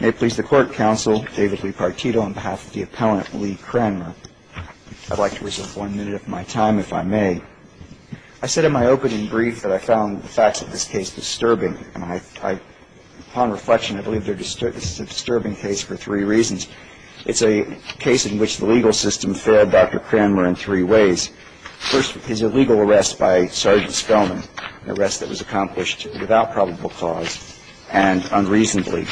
May it please the court, counsel, David Lee Partito on behalf of the appellant, Lee Cranmer. I'd like to reserve one minute of my time, if I may. I said in my opening brief that I found the facts of this case disturbing. Upon reflection, I believe this is a disturbing case for three reasons. It's a case in which the legal system failed Dr. Cranmer in three ways. First, his illegal arrest by Sergeant Spellman, an arrest that was accomplished without probable cause and unreasonably.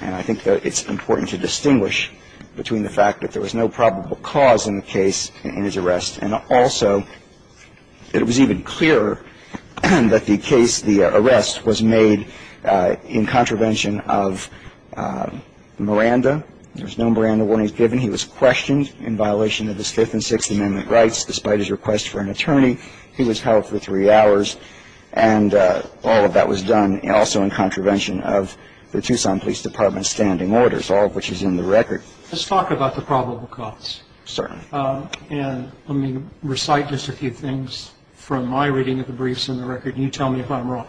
And I think that it's important to distinguish between the fact that there was no probable cause in the case in his arrest and also that it was even clearer that the case, the arrest, was made in contravention of Miranda. There was no Miranda warnings given. He was questioned in violation of his Fifth and Sixth Amendment rights. Despite his request for an attorney, he was held for three hours. And all of that was done also in contravention of the Tucson Police Department's standing orders, all of which is in the record. Let's talk about the probable cause. Certainly. And let me recite just a few things from my reading of the briefs and the record, and you tell me if I'm wrong.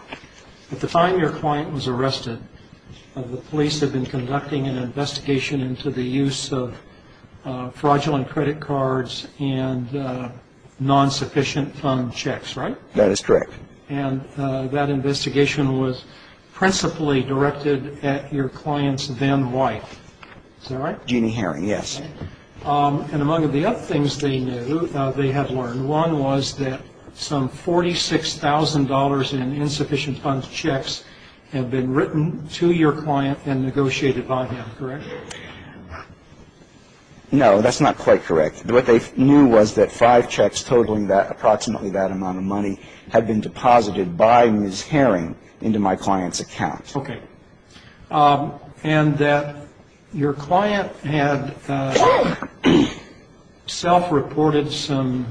At the time your client was arrested, the police had been conducting an investigation into the use of fraudulent credit cards and non-sufficient fund checks, right? That is correct. And that investigation was principally directed at your client's then wife. Is that right? Jeannie Herring, yes. And among the other things they knew, they had learned, one was that some $46,000 in insufficient fund checks had been written to your client and negotiated by him, correct? No, that's not quite correct. What they knew was that five checks totaling approximately that amount of money had been deposited by Ms. Herring into my client's account. Okay. And that your client had self-reported some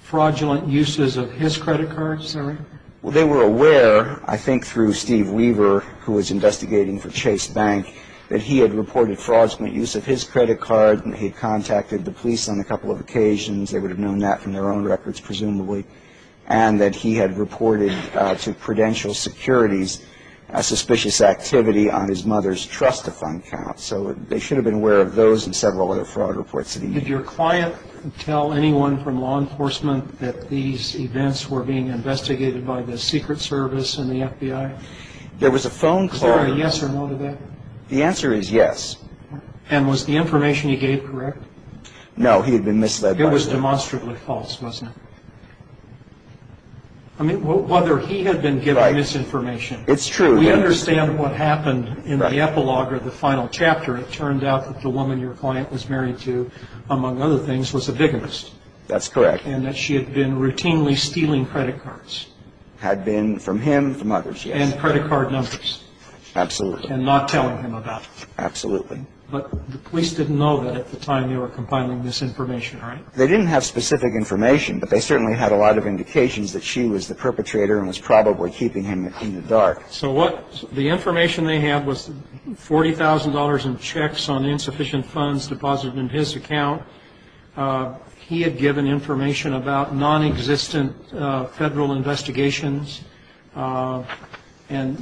fraudulent uses of his credit cards, is that right? Well, they were aware, I think through Steve Weaver, who was investigating for Chase Bank, that he had reported fraudulent use of his credit card, and he had contacted the police on a couple of occasions. They would have known that from their own records, presumably, and that he had reported to Prudential Securities a suspicious activity on his mother's trust-to-fund account. So they should have been aware of those and several other fraud reports that he had. Did your client tell anyone from law enforcement that these events were being investigated by the Secret Service and the FBI? There was a phone call. Was there a yes or no to that? The answer is yes. And was the information he gave correct? No, he had been misled by it. It was demonstrably false, wasn't it? I mean, whether he had been given misinformation. It's true. We understand what happened in the epilogue or the final chapter. It turned out that the woman your client was married to, among other things, was a bigotist. That's correct. And that she had been routinely stealing credit cards. Had been from him, from others, yes. And credit card numbers. Absolutely. And not telling him about it. Absolutely. But the police didn't know that at the time they were compiling this information, right? They didn't have specific information, but they certainly had a lot of indications that she was the perpetrator and was probably keeping him in the dark. So what the information they had was $40,000 in checks on insufficient funds deposited in his account. Now, when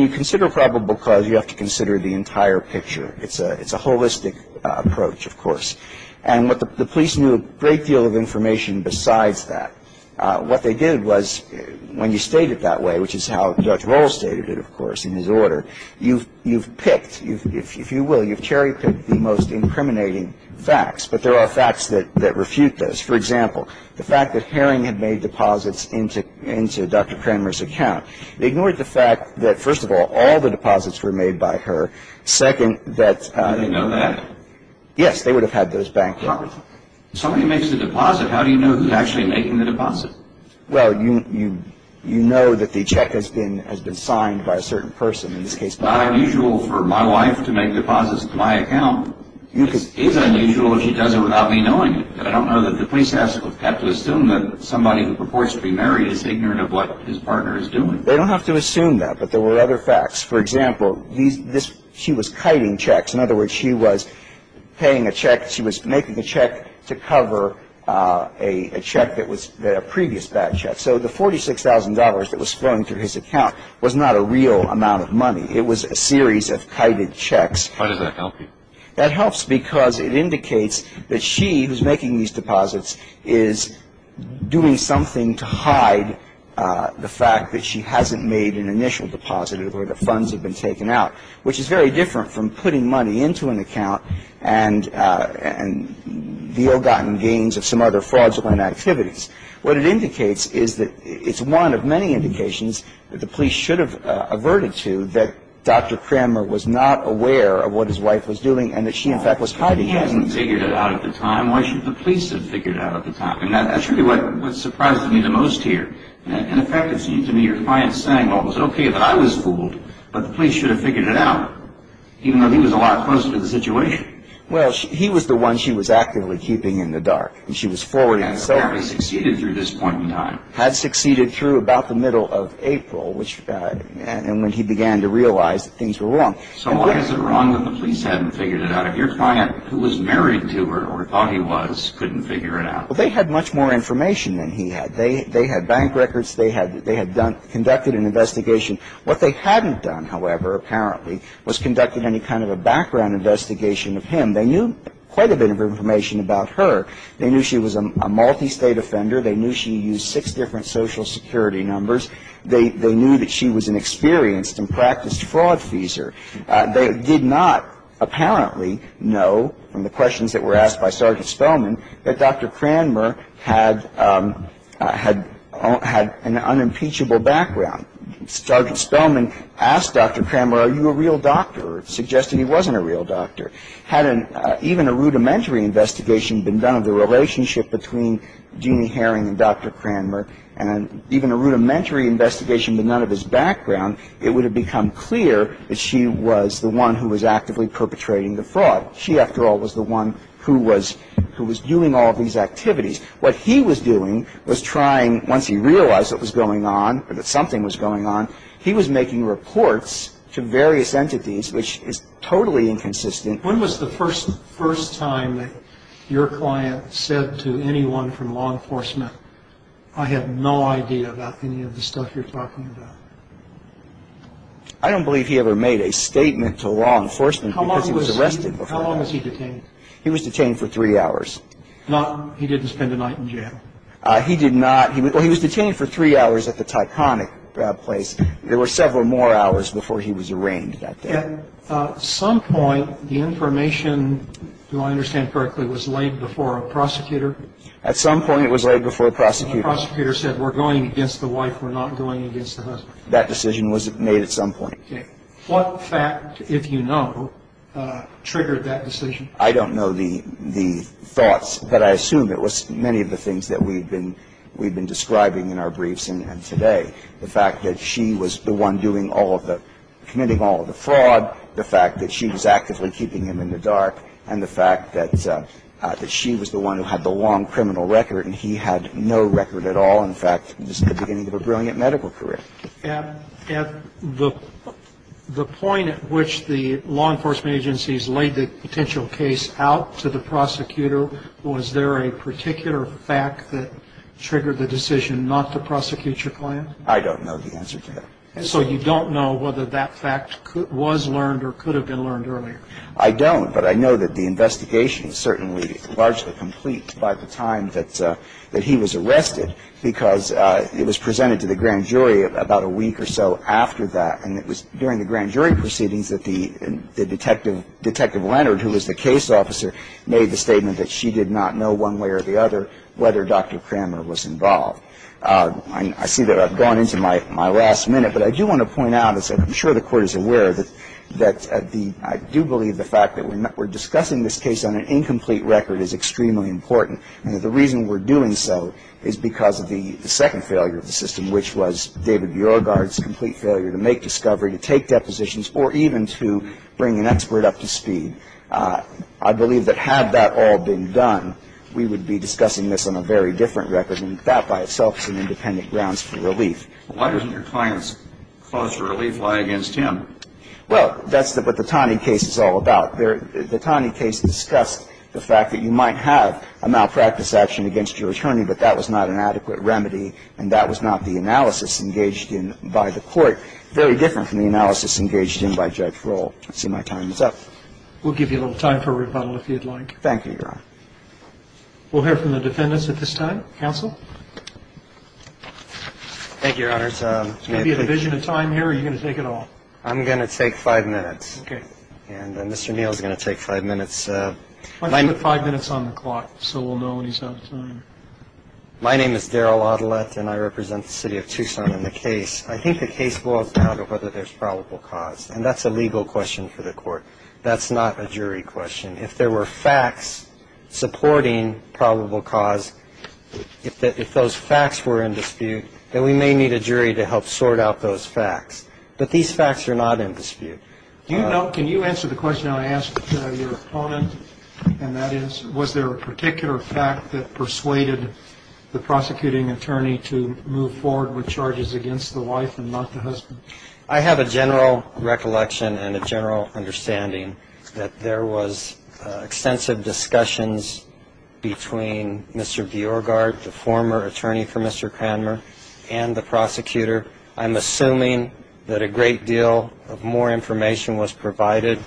you consider probable cause, you have to consider the entire picture. It's a holistic approach, of course. And what the police knew a great deal of information besides that. What they did was, when you state it that way, which is how Dr. Rohl stated it, of course, in his order, you've picked. If you will, you've cherry-picked the most incriminating facts. But there are facts that refute those. For example, the fact that Herring had made deposits into Dr. Kramer's account. They ignored the fact that, first of all, all the deposits were made by her. Second, that. Did they know that? Yes. They would have had those banked off. If somebody makes a deposit, how do you know who's actually making the deposit? Well, you know that the check has been signed by a certain person. It's not unusual for my wife to make deposits to my account. It is unusual if she does it without me knowing it. I don't know that the police have to assume that somebody who purports to be married is ignorant of what his partner is doing. They don't have to assume that, but there were other facts. For example, she was kiting checks. In other words, she was paying a check. She was making a check to cover a check that was a previous bad check. So the $46,000 that was flowing through his account was not a real amount of money. It was a series of kited checks. How does that help you? That helps because it indicates that she who's making these deposits is doing something to hide the fact that she hasn't made an initial deposit or the funds have been taken out, which is very different from putting money into an account and the ill-gotten gains of some other fraudulent activities. What it indicates is that it's one of many indications that the police should have averted to that Dr. Cramer was not aware of what his wife was doing and that she, in fact, was hiding it. Well, if he hasn't figured it out at the time, why should the police have figured it out at the time? I mean, that's really what surprised me the most here. In effect, it seemed to me your client's saying, well, it was okay that I was fooled, but the police should have figured it out, even though he was a lot closer to the situation. Well, he was the one she was actively keeping in the dark, and she was forwarding herself. Well, he succeeded through this point in time. Had succeeded through about the middle of April, and when he began to realize that things were wrong. So why is it wrong that the police hadn't figured it out? If your client, who was married to her or thought he was, couldn't figure it out. Well, they had much more information than he had. They had bank records. They had conducted an investigation. What they hadn't done, however, apparently, was conducted any kind of a background investigation of him. They knew quite a bit of information about her. They knew she was a multi-state offender. They knew she used six different social security numbers. They knew that she was an experienced and practiced fraud feeser. They did not apparently know, from the questions that were asked by Sergeant Spellman, that Dr. Cranmer had an unimpeachable background. Sergeant Spellman asked Dr. Cranmer, are you a real doctor, or suggested he wasn't a real doctor. Had even a rudimentary investigation been done of the relationship between Jeannie Herring and Dr. Cranmer and even a rudimentary investigation but none of his background, it would have become clear that she was the one who was actively perpetrating the fraud. She, after all, was the one who was doing all of these activities. What he was doing was trying, once he realized it was going on or that something was going on, he was making reports to various entities, which is totally inconsistent. When was the first time that your client said to anyone from law enforcement, I have no idea about any of the stuff you're talking about? I don't believe he ever made a statement to law enforcement because he was arrested. How long was he detained? He was detained for three hours. He didn't spend a night in jail? He did not. Well, he was detained for three hours at the Tyconic place. There were several more hours before he was arraigned that day. At some point, the information, do I understand correctly, was laid before a prosecutor? At some point, it was laid before a prosecutor. And the prosecutor said, we're going against the wife, we're not going against the husband. That decision was made at some point. Okay. What fact, if you know, triggered that decision? I don't know the thoughts, but I assume it was many of the things that we've been describing in our briefs and today. The fact that she was the one doing all of the, committing all of the fraud, the fact that she was actively keeping him in the dark, and the fact that she was the one who had the long criminal record and he had no record at all. In fact, this is the beginning of a brilliant medical career. At the point at which the law enforcement agencies laid the potential case out to the prosecutor, was there a particular fact that triggered the decision not to prosecute your client? I don't know the answer to that. So you don't know whether that fact was learned or could have been learned earlier? I don't. But I know that the investigation is certainly largely complete by the time that he was arrested because it was presented to the grand jury about a week or so after that. And it was during the grand jury proceedings that the detective, Detective Leonard, who was the case officer, made the statement that she did not know one way or the other whether Dr. Cramer was involved. I see that I've gone into my last minute. But I do want to point out, as I'm sure the Court is aware, that I do believe the fact that we're discussing this case on an incomplete record is extremely important. And the reason we're doing so is because of the second failure of the system, which was David Beauregard's complete failure to make discovery, to take depositions, or even to bring an expert up to speed. I believe that had that all been done, we would be discussing this on a very different record, and that by itself is an independent grounds for relief. Why doesn't your client's cause for relief lie against him? Well, that's what the Tani case is all about. The Tani case discussed the fact that you might have a malpractice action against your attorney, but that was not an adequate remedy, and that was not the analysis engaged in by the Court. Very different from the analysis engaged in by Judge Roll. I see my time is up. We'll give you a little time for rebuttal if you'd like. Thank you, Your Honor. We'll hear from the defendants at this time. Counsel? Thank you, Your Honor. Is there going to be a division of time here, or are you going to take it all? I'm going to take five minutes. Okay. And Mr. Neal is going to take five minutes. Why don't you put five minutes on the clock so we'll know when he's out of time? My name is Daryl Adelet, and I represent the City of Tucson in the case. I think the case boils down to whether there's probable cause, and that's a legal question for the Court. That's not a jury question. If there were facts supporting probable cause, if those facts were in dispute, then we may need a jury to help sort out those facts. But these facts are not in dispute. Do you know, can you answer the question I asked your opponent, and that is, was there a particular fact that persuaded the prosecuting attorney to move forward with charges against the wife and not the husband? I have a general recollection and a general understanding that there was extensive discussions between Mr. Bjorgard, the former attorney for Mr. Cranmer, and the prosecutor. I'm assuming that a great deal of more information was provided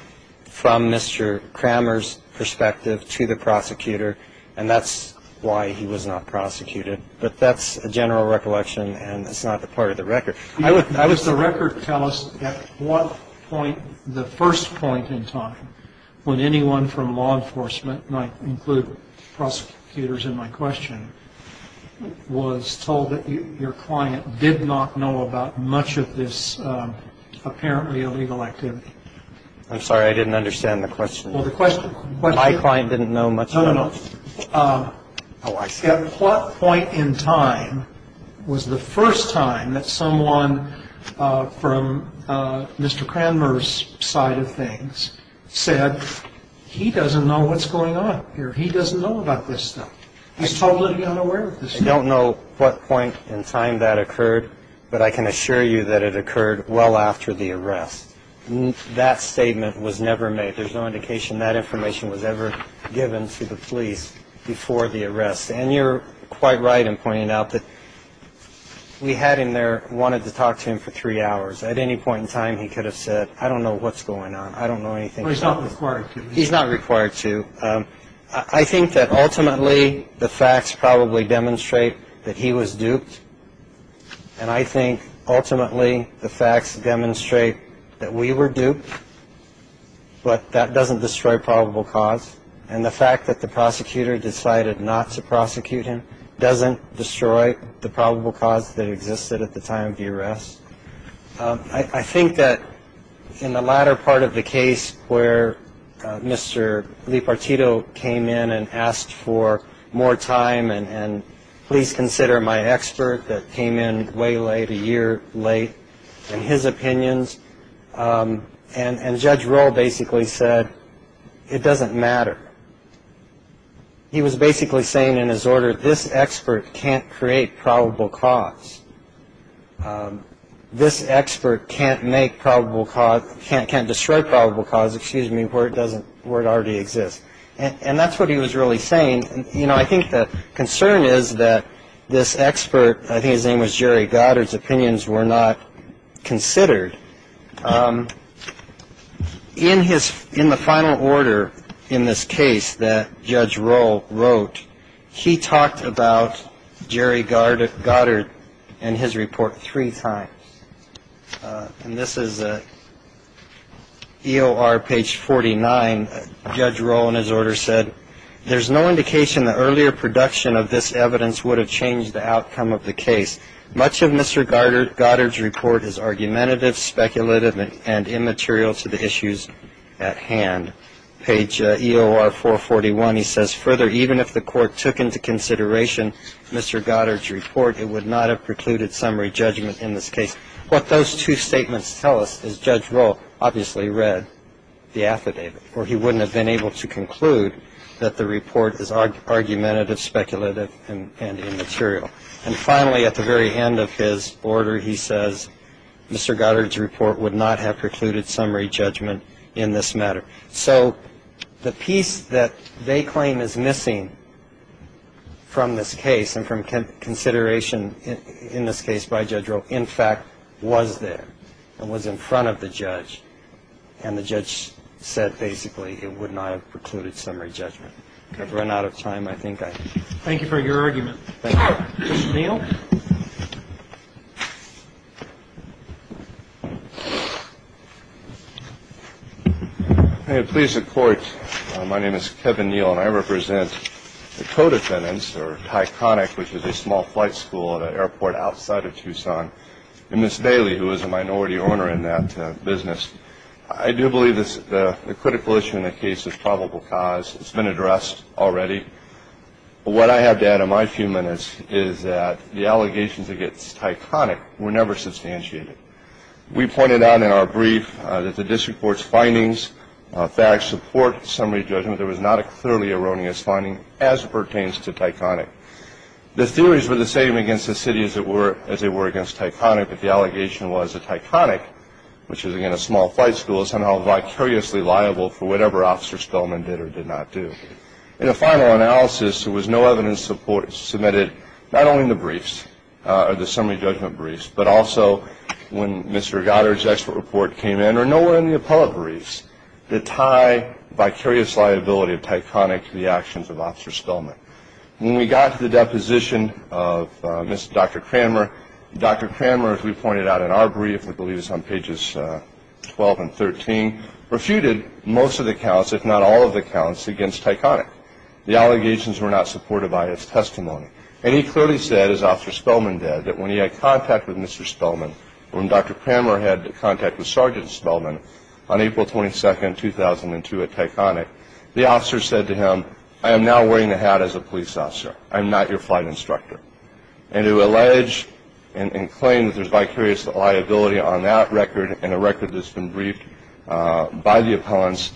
from Mr. Cranmer's perspective to the prosecutor, and that's why he was not prosecuted. But that's a general recollection, and it's not a part of the record. I'm sorry. No, no, no. At what point in time was the first time that someone was told that your client did not know about much of this apparently illegal activity? I'm sorry. I didn't understand the question. Well, the question was... My client didn't know much about it. No, no, no. Oh, I see. At what point in time was the first time that someone from Mr. Cranmer's side of things said, he doesn't know what's going on here, he doesn't know about this stuff, he's totally unaware of this stuff? I don't know what point in time that occurred, but I can assure you that it occurred well after the arrest. That statement was never made. There's no indication that information was ever given to the police before the arrest. And you're quite right in pointing out that we had him there, wanted to talk to him for three hours. At any point in time, he could have said, I don't know what's going on, I don't know anything. He's not required to. He's not required to. I think that ultimately the facts probably demonstrate that he was duped, and I think ultimately the facts demonstrate that we were duped, but that doesn't destroy probable cause. And the fact that the prosecutor decided not to prosecute him doesn't destroy the probable cause that existed at the time of the arrest. I think that in the latter part of the case where Mr. Leopardito came in and asked for more time and please consider my expert that came in way late, a year late, and his opinions, and Judge Roll basically said, it doesn't matter. He was basically saying in his order, this expert can't create probable cause. This expert can't make probable cause, can't destroy probable cause, excuse me, where it already exists. And that's what he was really saying. You know, I think the concern is that this expert, I think his name was Jerry Goddard, his opinions were not considered. In the final order in this case that Judge Roll wrote, he talked about Jerry Goddard and his report three times. And this is EOR page 49. Judge Roll in his order said, there's no indication the earlier production of this evidence would have changed the outcome of the case. Much of Mr. Goddard's report is argumentative, speculative, and immaterial to the issues at hand. Page EOR 441, he says, further, even if the court took into consideration Mr. Goddard's report, it would not have precluded summary judgment in this case. What those two statements tell us is Judge Roll obviously read the affidavit, or he wouldn't have been able to conclude that the report is argumentative, speculative, and immaterial. And finally, at the very end of his order, he says, Mr. Goddard's report would not have precluded summary judgment in this matter. So the piece that they claim is missing from this case and from consideration in this case by Judge Roll, in fact, was there. It was in front of the judge. And the judge said, basically, it would not have precluded summary judgment. I've run out of time. I think I... Thank you for your argument. Thank you. Mr. Neal. Please support. My name is Kevin Neal, and I represent the co-defendants, or Ticonic, which is a small flight school at an airport outside of Tucson, and Ms. Daly, who is a minority owner in that business. I do believe the critical issue in the case is probable cause. It's been addressed already. What I have to add in my few minutes is that the allegations against Ticonic were never substantiated. We pointed out in our brief that the district court's findings, facts support summary judgment. There was not a clearly erroneous finding as pertains to Ticonic. The theories were the same against the city as they were against Ticonic, but the allegation was that Ticonic, which is, again, a small flight school, is somehow vicariously liable for whatever Officer Spellman did or did not do. In a final analysis, there was no evidence submitted not only in the briefs or the summary judgment briefs, but also when Mr. Goddard's expert report came in or nowhere in the appellate briefs that tie vicarious liability of Ticonic to the actions of Officer Spellman. When we got to the deposition of Dr. Cranmer, Dr. Cranmer, as we pointed out in our brief, I believe it's on pages 12 and 13, refuted most of the counts, if not all of the counts, against Ticonic. The allegations were not supported by his testimony. And he clearly said, as Officer Spellman did, that when he had contact with Mr. Spellman, when Dr. Cranmer had contact with Sergeant Spellman on April 22, 2002 at Ticonic, the officer said to him, I am now wearing the hat as a police officer. I am not your flight instructor. And to allege and claim that there's vicarious liability on that record and a record that's been briefed by the appellants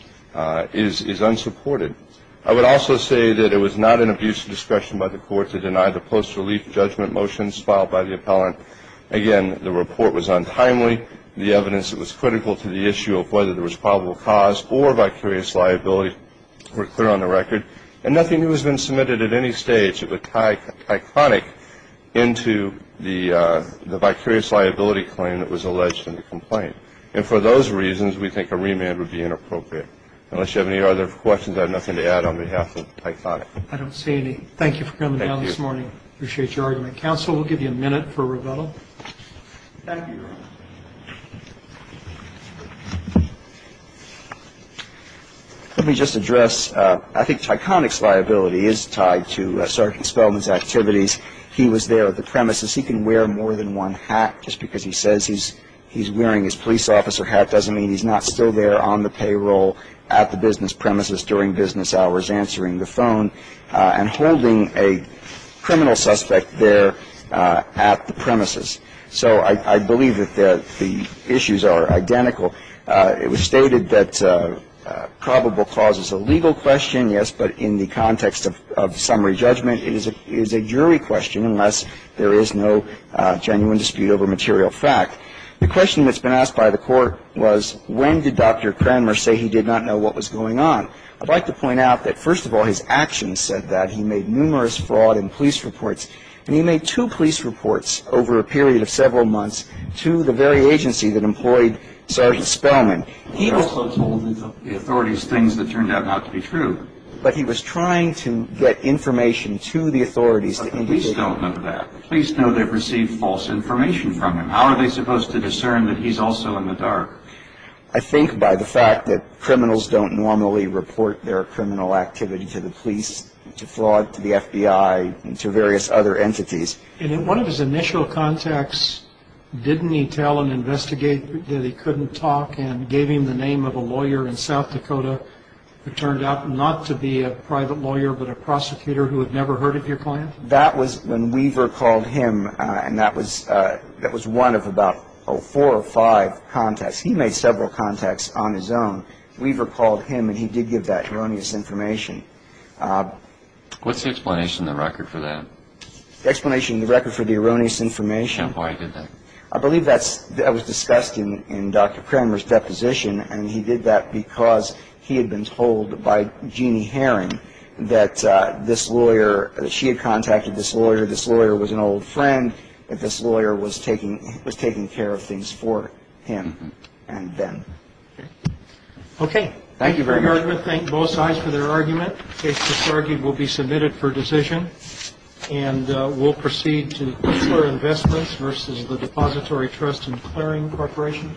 is unsupported. I would also say that it was not an abuse of discretion by the court to deny the post-relief judgment motions filed by the appellant. Again, the report was untimely. The evidence that was critical to the issue of whether there was probable cause or vicarious liability were clear on the record. And nothing new has been submitted at any stage of Ticonic into the vicarious liability claim that was alleged in the complaint. And for those reasons, we think a remand would be inappropriate. Unless you have any other questions, I have nothing to add on behalf of Ticonic. I don't see any. Thank you for coming down this morning. Thank you. Appreciate your argument. Thank you, Your Honor. Let me just address, I think Ticonic's liability is tied to Sergeant Spelman's activities. He was there at the premises. He can wear more than one hat just because he says he's wearing his police officer hat doesn't mean he's not still there on the payroll at the business premises during business hours answering the phone and holding a criminal suspect there at the premises. So I believe that the issues are identical. It was stated that probable cause is a legal question, yes, but in the context of summary judgment, it is a jury question unless there is no genuine dispute over material fact. The question that's been asked by the Court was, when did Dr. Cranmer say he did not know what was going on? I'd like to point out that, first of all, his actions said that. He made numerous fraud and police reports. And he made two police reports over a period of several months to the very agency that employed Sergeant Spelman. He also told the authorities things that turned out not to be true. But he was trying to get information to the authorities. But the police don't know that. The police know they've received false information from him. How are they supposed to discern that he's also in the dark? I think by the fact that criminals don't normally report their criminal activity to the police, to fraud, to the FBI, to various other entities. And in one of his initial contacts, didn't he tell an investigator that he couldn't talk and gave him the name of a lawyer in South Dakota who turned out not to be a private lawyer but a prosecutor who had never heard of your client? That was when Weaver called him, and that was one of about four or five contacts. He made several contacts on his own. Weaver called him, and he did give that erroneous information. What's the explanation in the record for that? The explanation in the record for the erroneous information. And why did that? I believe that was discussed in Dr. Kramer's deposition, and he did that because he had been told by Jeanne Herring that this lawyer, that she had contacted this lawyer, this lawyer was an old friend, that this lawyer was taking care of things for him and them. Okay. Thank you very much. Thank both sides for their argument. The case disargued will be submitted for decision, and we'll proceed to Kistler Investments versus the Depository Trust and Clearing Corporation.